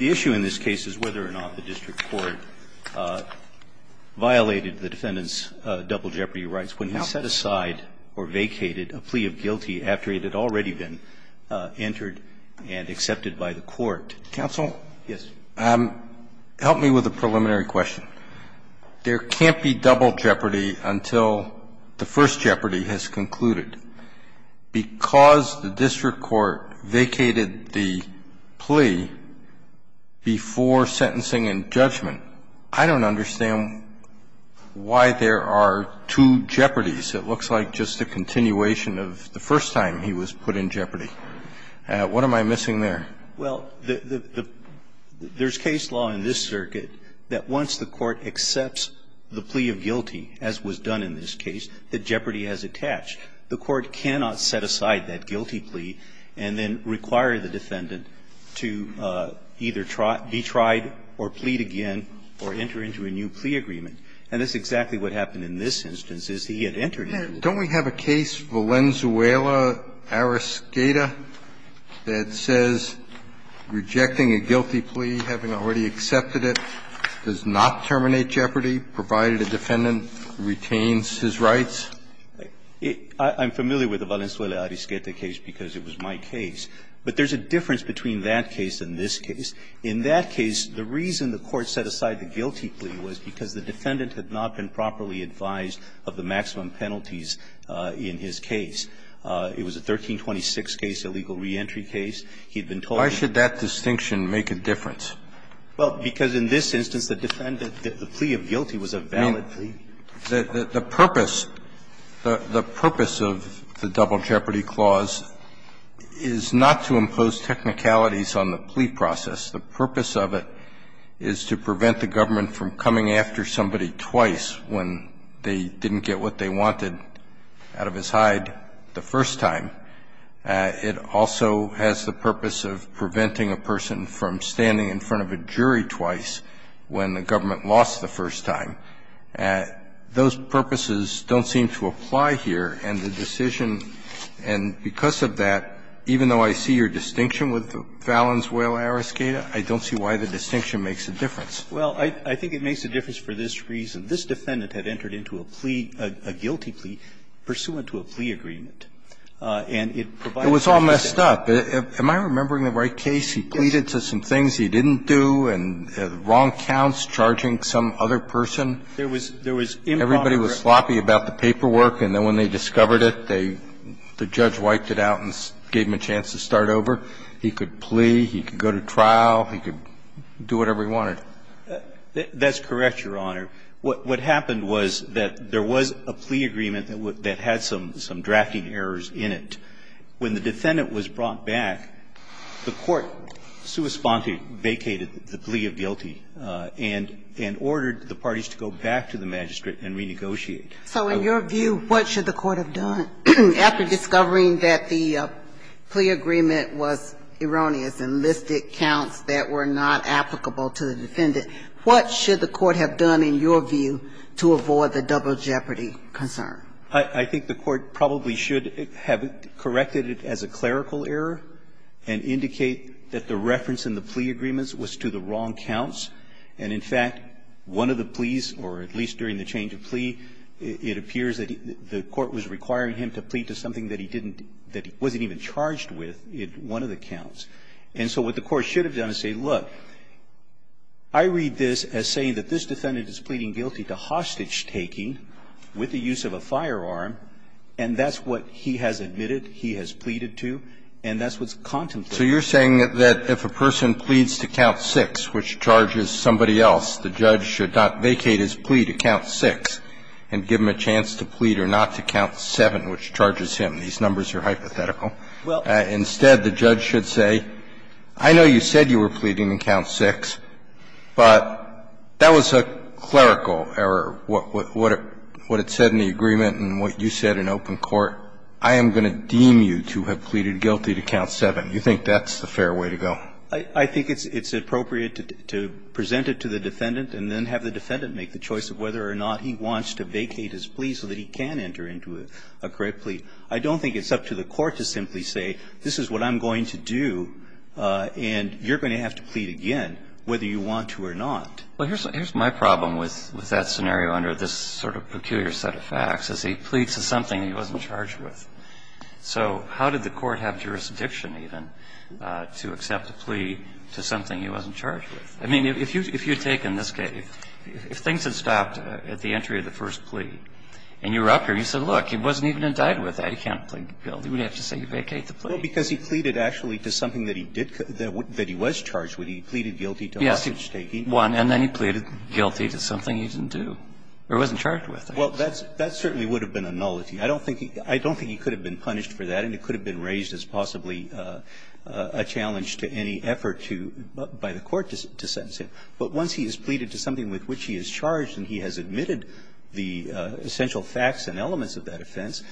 The issue in this case is whether or not the district court violated the defendant's double jeopardy rights when he set aside or vacated a plea of guilty after it had already been entered and accepted by the court. Counsel? Yes. Help me with a preliminary question. There can't be double jeopardy until the first jeopardy has concluded. Because the district court vacated the plea before sentencing and judgment, I don't understand why there are two jeopardies. It looks like just a continuation of the first time he was put in jeopardy. What am I missing there? Well, there's case law in this circuit that once the court accepts the plea of guilty, as was done in this case, that jeopardy has attached. The court cannot set aside that guilty plea and then require the defendant to either be tried or plead again or enter into a new plea agreement. And that's exactly what happened in this instance, is he had entered into it. Don't we have a case, Valenzuela-Arisketa, that says rejecting a guilty plea, having already accepted it, does not terminate jeopardy, provided a defendant retains his rights? I'm familiar with the Valenzuela-Arisketa case because it was my case. But there's a difference between that case and this case. In that case, the reason the court set aside the guilty plea was because the defendant had not been properly advised of the maximum penalties in his case. It was a 1326 case, a legal reentry case. He had been told that he had not been properly advised. Why should that distinction make a difference? Well, because in this instance, the defendant, the plea of guilty was a valid plea. The purpose, the purpose of the Double Jeopardy Clause is not to impose technicalities on the plea process. The purpose of it is to prevent the government from coming after somebody twice when they didn't get what they wanted out of his hide the first time. It also has the purpose of preventing a person from standing in front of a jury twice when the government lost the first time. Those purposes don't seem to apply here, and the decision, and because of that, even though I see your distinction with Fallon's Whale Ariscata, I don't see why the distinction makes a difference. Well, I think it makes a difference for this reason. This defendant had entered into a plea, a guilty plea, pursuant to a plea agreement. And it provides a reason to say that. It was all messed up. Am I remembering the right case? He pleaded to some things he didn't do and wrong counts, charging some other person. There was improper grasping. Everybody was sloppy about the paperwork, and then when they discovered it, the judge wiped it out and gave him a chance to start over. He could plea, he could go to trial, he could do whatever he wanted. That's correct, Your Honor. What happened was that there was a plea agreement that had some drafting errors in it. When the defendant was brought back, the court sui sponte vacated the plea of guilty and ordered the parties to go back to the magistrate and renegotiate. So in your view, what should the court have done after discovering that the plea agreement was erroneous and listed counts that were not applicable to the defendant? What should the court have done, in your view, to avoid the double jeopardy concern? I think the court probably should have corrected it as a clerical error and indicate that the reference in the plea agreements was to the wrong counts. And in fact, one of the pleas, or at least during the change of plea, it appears that the court was requiring him to plead to something that he didn't do, that he wasn't even charged with in one of the counts. And so what the court should have done is say, look, I read this as saying that this defendant is pleading guilty to hostage-taking with the use of a firearm, and that's what he has admitted, he has pleaded to, and that's what's contemplated. So you're saying that if a person pleads to count 6, which charges somebody else, the judge should not vacate his plea to count 6 and give him a chance to plead or not to count 7, which charges him. These numbers are hypothetical. Instead, the judge should say, I know you said you were pleading in count 6, but that was a clerical error, what it said in the agreement and what you said in open court. I am going to deem you to have pleaded guilty to count 7. Do you think that's a fair way to go? I think it's appropriate to present it to the defendant and then have the defendant make the choice of whether or not he wants to vacate his plea so that he can enter into a correct plea. I don't think it's up to the court to simply say, this is what I'm going to do, and you're going to have to plead again, whether you want to or not. Well, here's my problem with that scenario under this sort of peculiar set of facts, is he pleads to something he wasn't charged with. So how did the court have jurisdiction even to accept a plea to something he wasn't charged with? I mean, if you take in this case, if things had stopped at the entry of the first plea and you were up here, you said, look, he wasn't even indicted with that, he can't plead guilty, we'd have to say you vacate the plea. Well, because he pleaded actually to something that he did count, that he was charged with, he pleaded guilty to hostage taking. Yes, he won, and then he pleaded guilty to something he didn't do or wasn't charged with. Well, that certainly would have been a nullity. I don't think he could have been punished for that, and it could have been raised as possibly a challenge to any effort to by the court to sentence him. But once he is pleaded to something with which he is charged and he has admitted the essential facts and elements of that offense,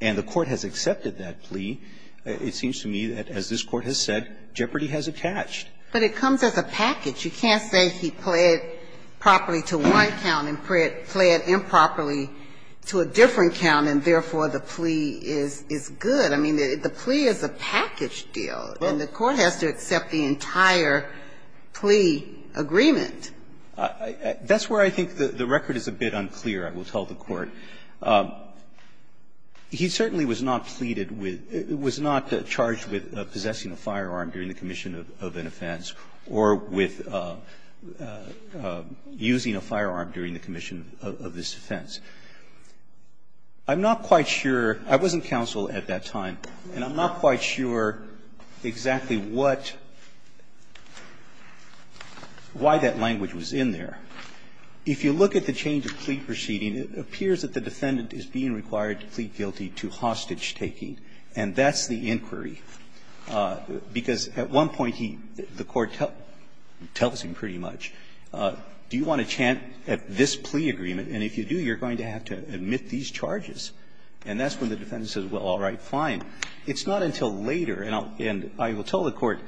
and the court has accepted that plea, it seems to me that, as this Court has said, jeopardy has attached. But it comes as a package. You can't say he pled properly to one count and pled improperly to a different count and, therefore, the plea is good. I mean, the plea is a package deal, and the court has to accept the entire plea agreement. That's where I think the record is a bit unclear, I will tell the Court. He certainly was not pleaded with or was not charged with possessing a firearm during the commission of an offense or with using a firearm during the commission of this offense. I'm not quite sure – I wasn't counsel at that time, and I'm not quite sure exactly what – why that language was in there. If you look at the change of plea proceeding, it appears that the defendant is being required to plead guilty to hostage-taking, and that's the inquiry. Because at one point he – the court tells him pretty much, do you want to chant at this plea agreement, and if you do, you're going to have to admit these charges. And that's when the defendant says, well, all right, fine. It's not until later, and I will tell the Court,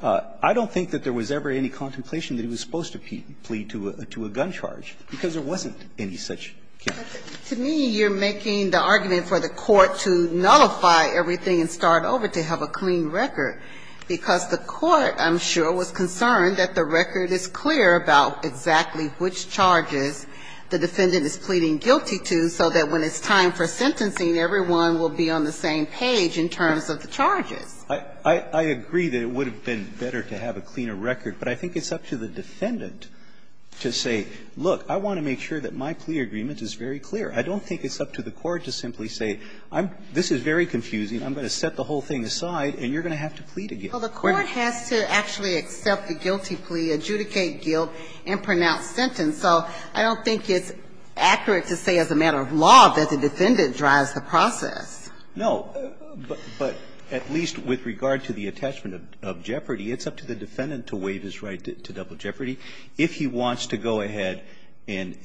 I don't think that there was ever any contemplation that he was supposed to plead to a gun charge, because there wasn't any such case. To me, you're making the argument for the court to nullify everything and start over, to have a clean record, because the court, I'm sure, was concerned that the defendant is pleading guilty to, so that when it's time for sentencing, everyone will be on the same page in terms of the charges. I agree that it would have been better to have a cleaner record, but I think it's up to the defendant to say, look, I want to make sure that my plea agreement is very clear. I don't think it's up to the court to simply say, this is very confusing, I'm going to set the whole thing aside, and you're going to have to plead again. Well, the court has to actually accept the guilty plea, adjudicate guilt, and pronounce sentence. So I don't think it's accurate to say as a matter of law that the defendant drives the process. No. But at least with regard to the attachment of Jeopardy, it's up to the defendant to waive his right to double Jeopardy. If he wants to go ahead and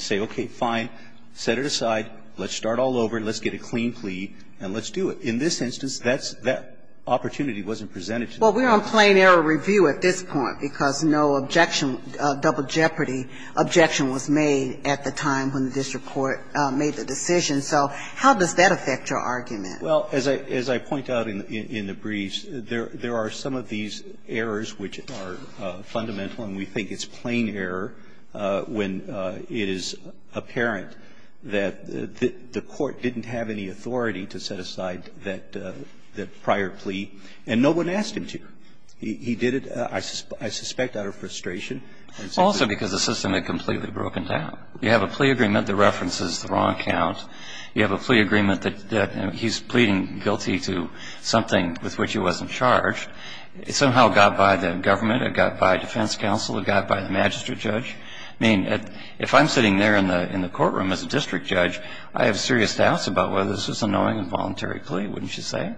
say, okay, fine, set it aside, let's start all over, let's get a clean plea, and let's do it. In this instance, that's the opportunity wasn't presented to them. Well, we're on plain error review at this point, because no objection, double Jeopardy objection was made at the time when the district court made the decision. So how does that affect your argument? Well, as I point out in the briefs, there are some of these errors which are fundamental, and we think it's plain error when it is apparent that the court didn't have any I suspect out of frustration. Also because the system had completely broken down. You have a plea agreement that references the wrong count. You have a plea agreement that he's pleading guilty to something with which he wasn't charged. It somehow got by the government, it got by defense counsel, it got by the magistrate judge. I mean, if I'm sitting there in the courtroom as a district judge, I have serious doubts about whether this was a knowing and voluntary plea, wouldn't you say?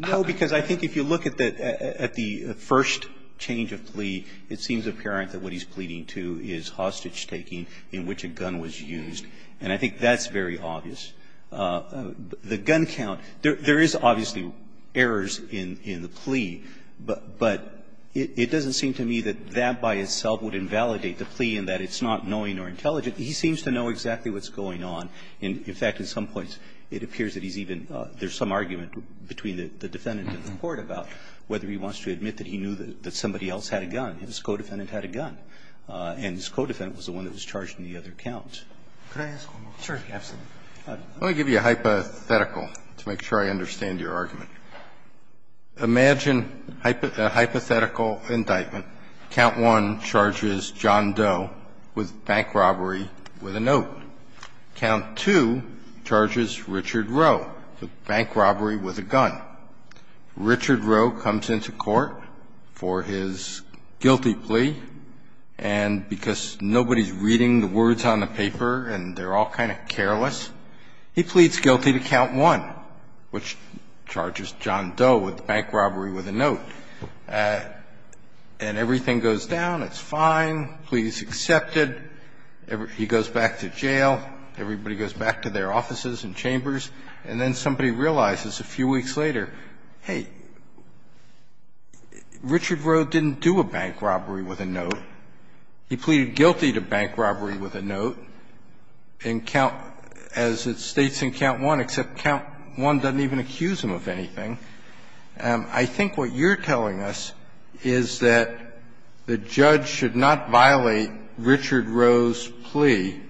No, because I think if you look at the first change of plea, it seems apparent that what he's pleading to is hostage taking in which a gun was used, and I think that's very obvious. The gun count, there is obviously errors in the plea, but it doesn't seem to me that that by itself would invalidate the plea in that it's not knowing or intelligent. He seems to know exactly what's going on. In fact, at some points, it appears that he's even – there's some argument between the defendant and the court about whether he wants to admit that he knew that somebody else had a gun, his co-defendant had a gun, and his co-defendant was the one that was charged in the other count. Roberts, absolutely. Let me give you a hypothetical to make sure I understand your argument. Imagine a hypothetical indictment. Count 1 charges John Doe with bank robbery with a note. Count 2 charges Richard Rowe with bank robbery with a gun. Richard Rowe comes into court for his guilty plea, and because nobody's reading the words on the paper and they're all kind of careless, he pleads guilty to Count 1, which charges John Doe with bank robbery with a note. And everything goes down. It's fine. The plea is accepted. He goes back to jail. Everybody goes back to their offices and chambers. And then somebody realizes a few weeks later, hey, Richard Rowe didn't do a bank robbery with a note. He pleaded guilty to bank robbery with a note in Count – as it states in Count 1, except Count 1 doesn't even accuse him of anything. I think what you're telling us is that the judge should not violate Richard Rowe's plea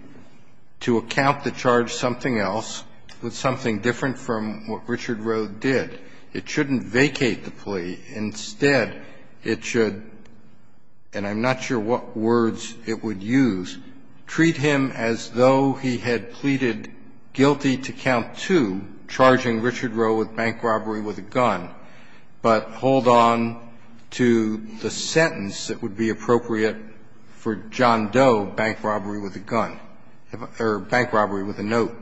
to account to charge something else with something different from what Richard Rowe did. It shouldn't vacate the plea. Instead, it should – and I'm not sure what words it would use – treat him as though he had pleaded guilty to Count 2, charging Richard Rowe with bank robbery with a gun, but hold on to the sentence that would be appropriate for John Doe, bank robbery with a gun, or bank robbery with a note.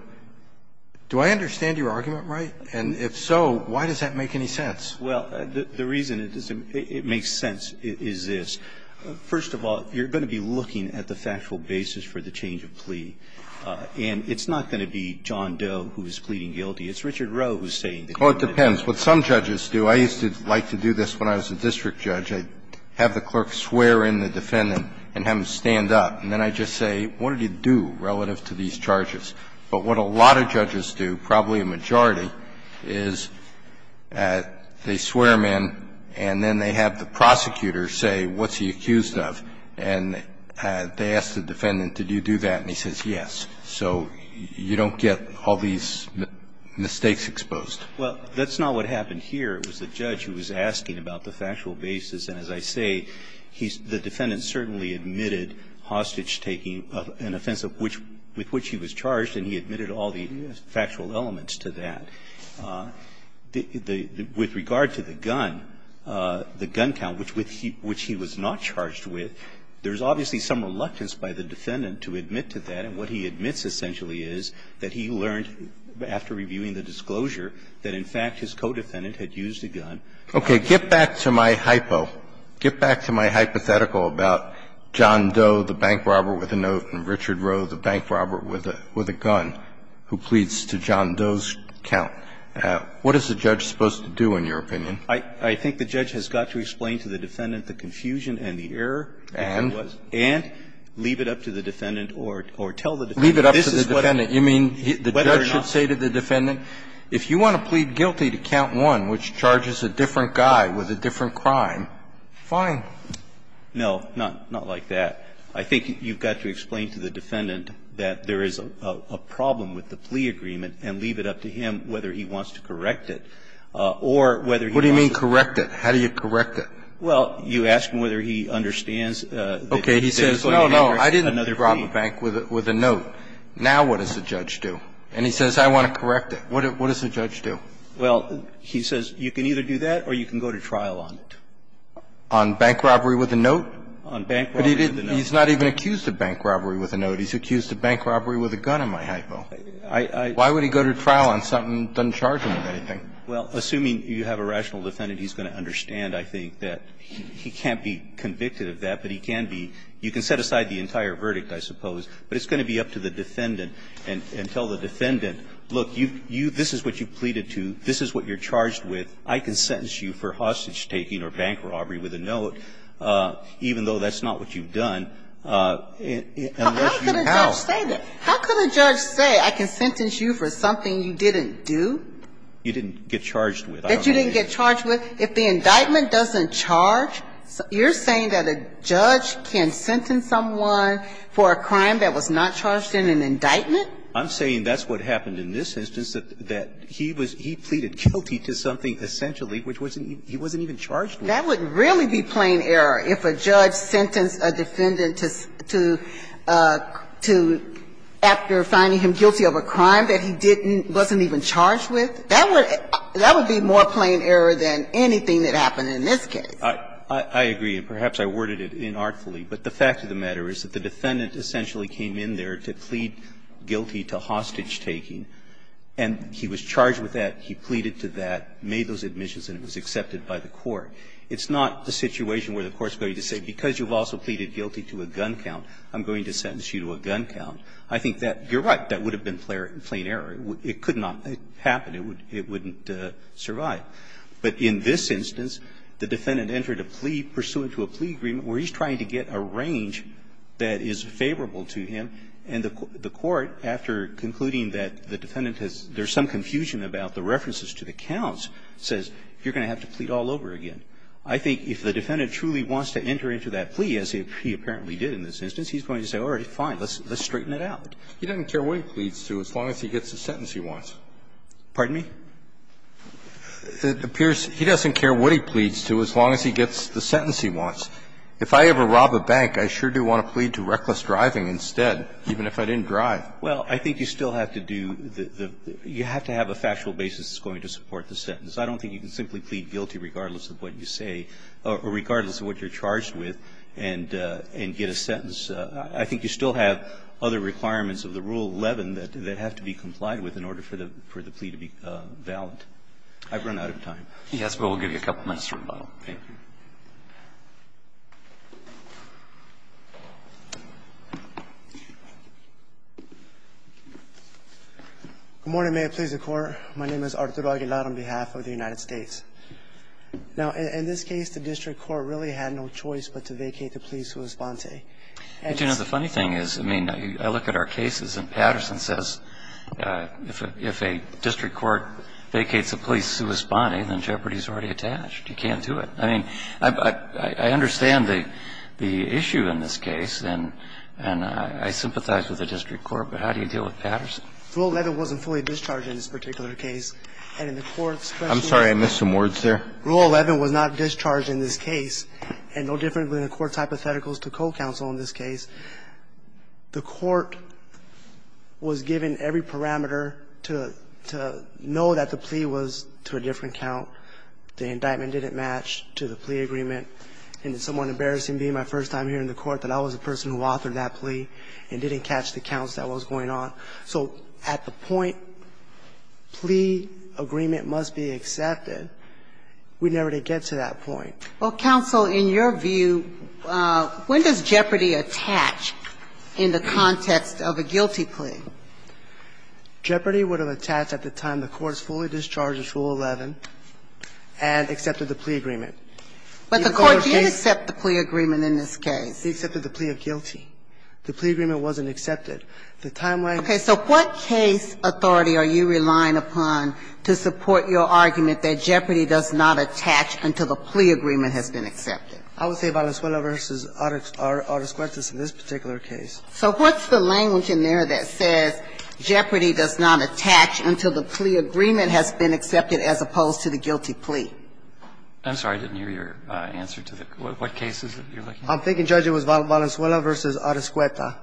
Do I understand your argument right? And if so, why does that make any sense? Well, the reason it makes sense is this. First of all, you're going to be looking at the factual basis for the change of plea. And it's not going to be John Doe who is pleading guilty. It's Richard Rowe who is saying that he wanted to do it. Oh, it depends. What some judges do – I used to like to do this when I was a district judge. I'd have the clerk swear in the defendant and have him stand up, and then I'd just say, what did he do relative to these charges? But what a lot of judges do, probably a majority, is they swear him in and then they have the prosecutor say, what's he accused of? And they ask the defendant, did you do that, and he says, yes. So you don't get all these mistakes exposed. Well, that's not what happened here. It was the judge who was asking about the factual basis. And as I say, he's – the defendant certainly admitted hostage taking, an offense with which he was charged, and he admitted all the factual elements to that. With regard to the gun, the gun count, which he was not charged with, there's obviously some reluctance by the defendant to admit to that. And what he admits, essentially, is that he learned, after reviewing the disclosure, that, in fact, his co-defendant had used a gun. Okay. Get back to my hypo. Get back to my hypothetical about John Doe, the bank robber with a note, and Richard Rowe, the bank robber with a gun, who pleads to John Doe's count. What is the judge supposed to do, in your opinion? I think the judge has got to explain to the defendant the confusion and the error if it was. And? Leave it up to the defendant or tell the defendant, this is what I'm saying. Leave it up to the defendant. You mean, the judge should say to the defendant, if you want to plead guilty to count 1, which charges a different guy with a different crime, fine. No, not like that. I think you've got to explain to the defendant that there is a problem with the plea agreement and leave it up to him whether he wants to correct it or whether he wants to. What do you mean, correct it? Well, you ask him whether he understands that he should correct it. He says, no, no, I didn't rob a bank with a note. Now what does the judge do? And he says, I want to correct it. What does the judge do? Well, he says, you can either do that or you can go to trial on it. On bank robbery with a note? On bank robbery with a note. But he's not even accused of bank robbery with a note. He's accused of bank robbery with a gun, in my hypo. I, I. Why would he go to trial on something that doesn't charge him with anything? Well, assuming you have a rational defendant, he's going to understand, I think, that he, he can't be convicted of that, but he can be, you can set aside the entire verdict, I suppose, but it's going to be up to the defendant and, and tell the defendant, look, you, you, this is what you pleaded to, this is what you're charged with, I can sentence you for hostage taking or bank robbery with a note, even though that's not what you've done, unless you have. How could a judge say that? How could a judge say, I can sentence you for something you didn't do? You didn't get charged with. That you didn't get charged with? If the indictment doesn't charge, you're saying that a judge can sentence someone for a crime that was not charged in an indictment? I'm saying that's what happened in this instance, that, that he was, he pleaded guilty to something essentially which wasn't, he wasn't even charged with. That would really be plain error if a judge sentenced a defendant to, to, to, after finding him guilty of a crime that he didn't, wasn't even charged with. That would, that would be more plain error than anything that happened in this case. I, I agree, and perhaps I worded it inartfully, but the fact of the matter is that the defendant essentially came in there to plead guilty to hostage taking, and he was charged with that, he pleaded to that, made those admissions, and it was accepted by the court. It's not the situation where the court's going to say, because you've also pleaded guilty to a gun count, I'm going to sentence you to a gun count. I think that, you're right, that would have been plain error. It could not happen. It would, it wouldn't survive. But in this instance, the defendant entered a plea pursuant to a plea agreement where he's trying to get a range that is favorable to him, and the, the court, after concluding that the defendant has, there's some confusion about the references to the counts, says you're going to have to plead all over again. I think if the defendant truly wants to enter into that plea, as he, he apparently did in this instance, he's going to say, all right, fine, let's, let's straighten it out. He doesn't care what he pleads to as long as he gets the sentence he wants. Pardon me? It appears he doesn't care what he pleads to as long as he gets the sentence he wants. If I ever rob a bank, I sure do want to plead to reckless driving instead, even if I didn't drive. Well, I think you still have to do the, the, you have to have a factual basis that's going to support the sentence. I don't think you can simply plead guilty regardless of what you say or regardless of what you're charged with and, and get a sentence. I think you still have other requirements of the Rule 11 that, that have to be complied with in order for the, for the plea to be valid. I've run out of time. Yes, but we'll give you a couple minutes for rebuttal. Thank you. Good morning. May it please the Court. My name is Arturo Aguilar on behalf of the United States. Now, in this case, the district court really had no choice but to vacate the plea suit of sponte. And, you know, the funny thing is, I mean, I look at our cases and Patterson says if a district court vacates a plea suit of sponte, then jeopardy is already attached. You can't do it. I mean, I, I understand the, the issue in this case and, and I sympathize with the district court, but how do you deal with Patterson? Rule 11 wasn't fully discharged in this particular case. And in the court's question. I'm sorry. I missed some words there. Rule 11 was not discharged in this case, and no different than the court's hypotheticals or co-counsel in this case. The court was given every parameter to, to know that the plea was to a different count. The indictment didn't match to the plea agreement. And it's somewhat embarrassing being my first time here in the court that I was the person who authored that plea and didn't catch the counts that was going on. So at the point, plea agreement must be accepted. We never did get to that point. Well, counsel, in your view, when does jeopardy attach in the context of a guilty plea? Jeopardy would have attached at the time the court has fully discharged Rule 11 and accepted the plea agreement. But the court did accept the plea agreement in this case. It accepted the plea of guilty. The plea agreement wasn't accepted. The timeline. Okay. So what case authority are you relying upon to support your argument that jeopardy does not attach until the plea agreement has been accepted? I would say Valenzuela v. Arascueta is in this particular case. So what's the language in there that says jeopardy does not attach until the plea agreement has been accepted as opposed to the guilty plea? I'm sorry. I didn't hear your answer to the question. What case is it you're looking at? I'm thinking, Judge, it was Valenzuela v. Arascueta.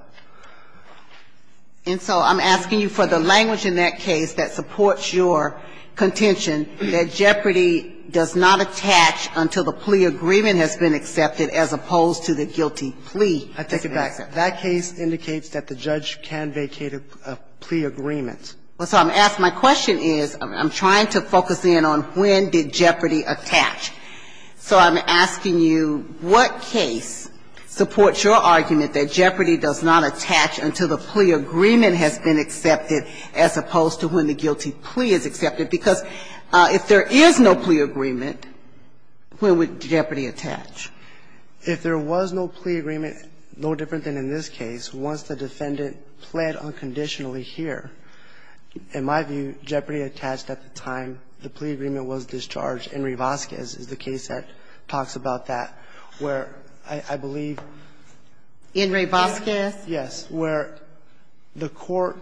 And so I'm asking you for the language in that case that supports your contention that jeopardy does not attach until the plea agreement has been accepted as opposed to the guilty plea. I take it back. That case indicates that the judge can vacate a plea agreement. Well, so I'm asking my question is, I'm trying to focus in on when did jeopardy attach. So I'm asking you what case supports your argument that jeopardy does not attach until the plea agreement has been accepted as opposed to when the guilty plea is accepted? Because if there is no plea agreement, when would jeopardy attach? If there was no plea agreement, no different than in this case, once the defendant pled unconditionally here, in my view, jeopardy attached at the time the plea agreement was discharged. Enri Vazquez is the case that talks about that, where I believe the court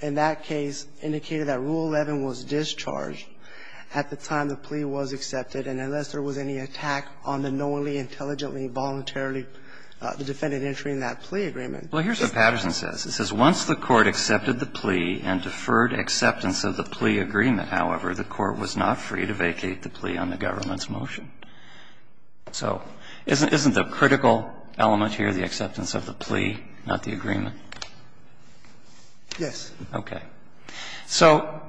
in that case indicated that Rule 11 was discharged at the time the plea was accepted. And unless there was any attack on the knowingly, intelligently, voluntarily the defendant entering that plea agreement. Well, here's what Patterson says. It says, Once the court accepted the plea and deferred acceptance of the plea agreement, however, the court was not free to vacate the plea on the government's motion. So isn't the critical element here the acceptance of the plea, not the agreement? Yes. Okay. So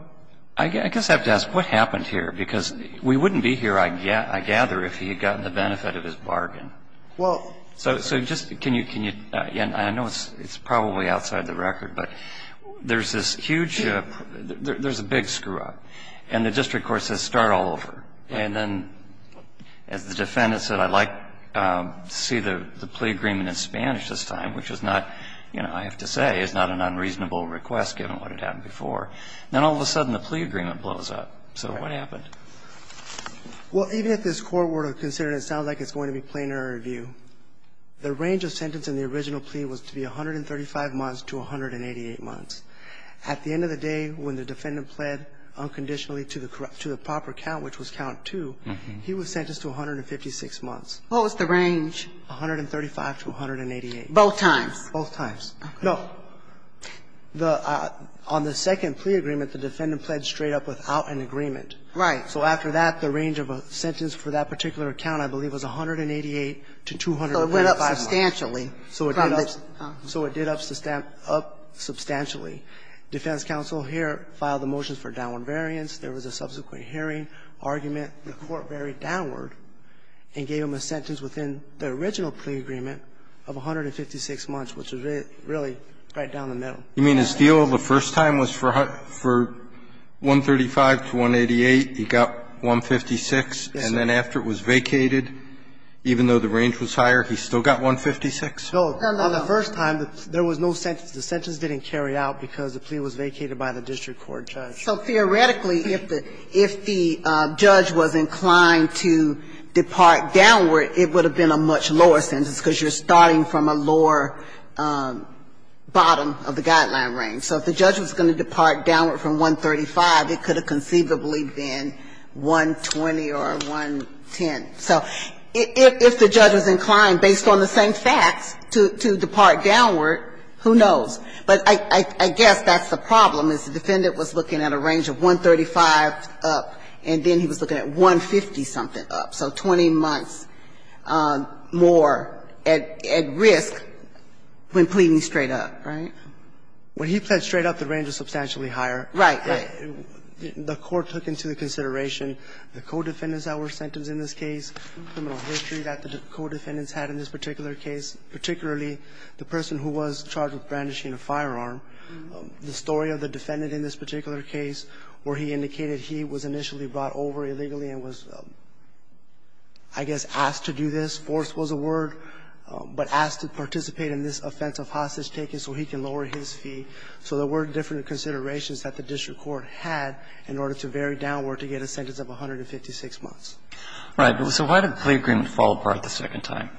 I guess I have to ask, what happened here? Because we wouldn't be here, I gather, if he had gotten the benefit of his bargain. Well. So just can you – I know it's probably outside the record, but there's this huge – there's a big screw-up. And the district court says start all over. And then, as the defendant said, I'd like to see the plea agreement in Spanish this time, which is not, you know, I have to say, is not an unreasonable request, given what had happened before. Then all of a sudden the plea agreement blows up. So what happened? Well, even if this court were to consider it, it sounds like it's going to be plainer in review. The range of sentence in the original plea was to be 135 months to 188 months. At the end of the day, when the defendant pled unconditionally to the proper count, which was count two, he was sentenced to 156 months. What was the range? 135 to 188. Both times. Both times. Okay. No. The – on the second plea agreement, the defendant pled straight up without an agreement. Right. So after that, the range of a sentence for that particular account, I believe, was 188 to 285 months. So it went up substantially. So it did up – so it did up substantially. Defense counsel here filed the motions for downward variance. There was a subsequent hearing argument. The court varied downward and gave him a sentence within the original plea agreement of 156 months, which was really right down the middle. You mean his deal the first time was for 135 to 188, he got 156. Yes, sir. And then after it was vacated, even though the range was higher, he still got 156? No. No, no. On the first time, there was no sentence. The sentence didn't carry out because the plea was vacated by the district court judge. So theoretically, if the – if the judge was inclined to depart downward, it would have been a much lower sentence because you're starting from a lower bottom of the guideline range. So if the judge was going to depart downward from 135, it could have conceivably been 120 or 110. So if the judge was inclined, based on the same facts, to depart downward, who knows? But I guess that's the problem, is the defendant was looking at a range of 135 up, and then he was looking at 150-something up, so 20 months more at risk when pleading straight up, right? When he pled straight up, the range was substantially higher. Right, right. The court took into consideration the co-defendants that were sentenced in this case, the criminal history that the co-defendants had in this particular case, particularly the person who was charged with brandishing a firearm, the story of the defendant in this particular case where he indicated he was initially brought over illegally and was, I guess, asked to do this, force was a word, but asked to participate in this offense of hostage-taking so he can lower his fee. So there were different considerations that the district court had in order to vary downward to get a sentence of 156 months. Right. So why did the plea agreement fall apart the second time?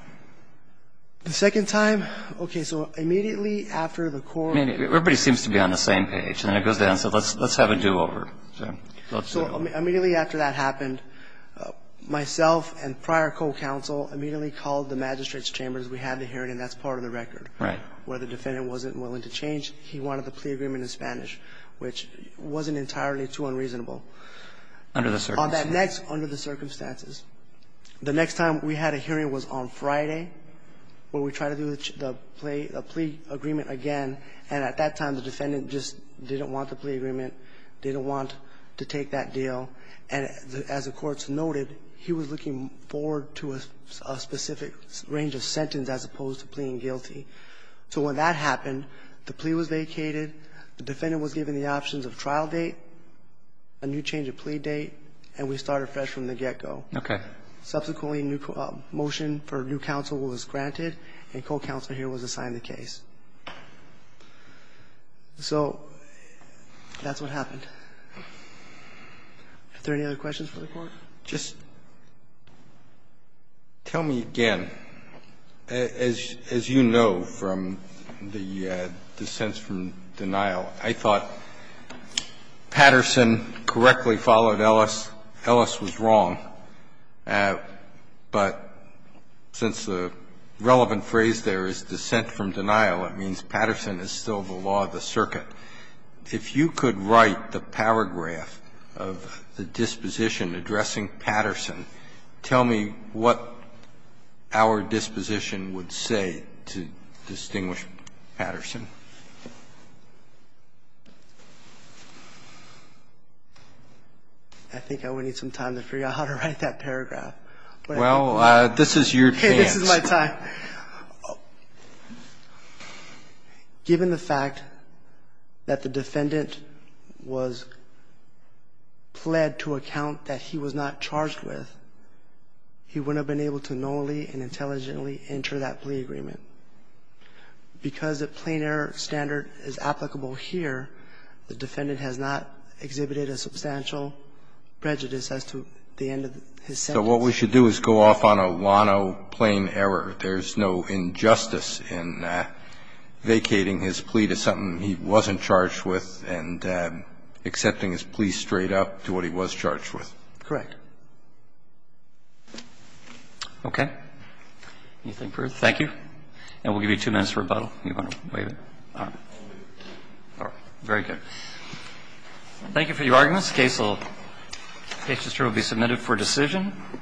The second time, okay, so immediately after the court ---- Everybody seems to be on the same page, and then it goes down, so let's have a do-over. So let's do it. So immediately after that happened, myself and prior co-counsel immediately called the magistrate's chambers. We had the hearing, and that's part of the record. Right. Where the defendant wasn't willing to change. He wanted the plea agreement in Spanish, which wasn't entirely too unreasonable. Under the circumstances. On that next, under the circumstances, the next time we had a hearing was on Friday where we tried to do the plea agreement again, and at that time, the defendant just didn't want the plea agreement, didn't want to take that deal. And as the courts noted, he was looking forward to a specific range of sentence as opposed to pleading guilty. So when that happened, the plea was vacated, the defendant was given the options of trial date, a new change of plea date, and we started fresh from the get-go. Okay. Subsequently, a new motion for new counsel was granted, and co-counsel here was assigned the case. So that's what happened. Are there any other questions for the Court? Just tell me again, as you know from the dissents from denial, I thought Patterson correctly followed Ellis, Ellis was wrong. But since the relevant phrase there is dissent from denial, it means Patterson is still the law of the circuit. If you could write the paragraph of the disposition addressing Patterson, tell me what our disposition would say to distinguish Patterson. I think I would need some time to figure out how to write that paragraph. Well, this is your chance. This is my time. Given the fact that the defendant was pled to account that he was not charged with, he wouldn't have been able to normally and intelligently enter that plea agreement. Because a plain error standard is applicable here, the defendant has not exhibited a substantial prejudice as to the end of his sentence. So what we should do is go off on a wano plain error. There's no injustice in vacating his plea to something he wasn't charged with and accepting his plea straight up to what he was charged with. Correct. Okay. Anything further? Thank you. And we'll give you two minutes for rebuttal if you want to waive it. All right. All right. Very good. Thank you for your arguments. The case will be submitted for decision.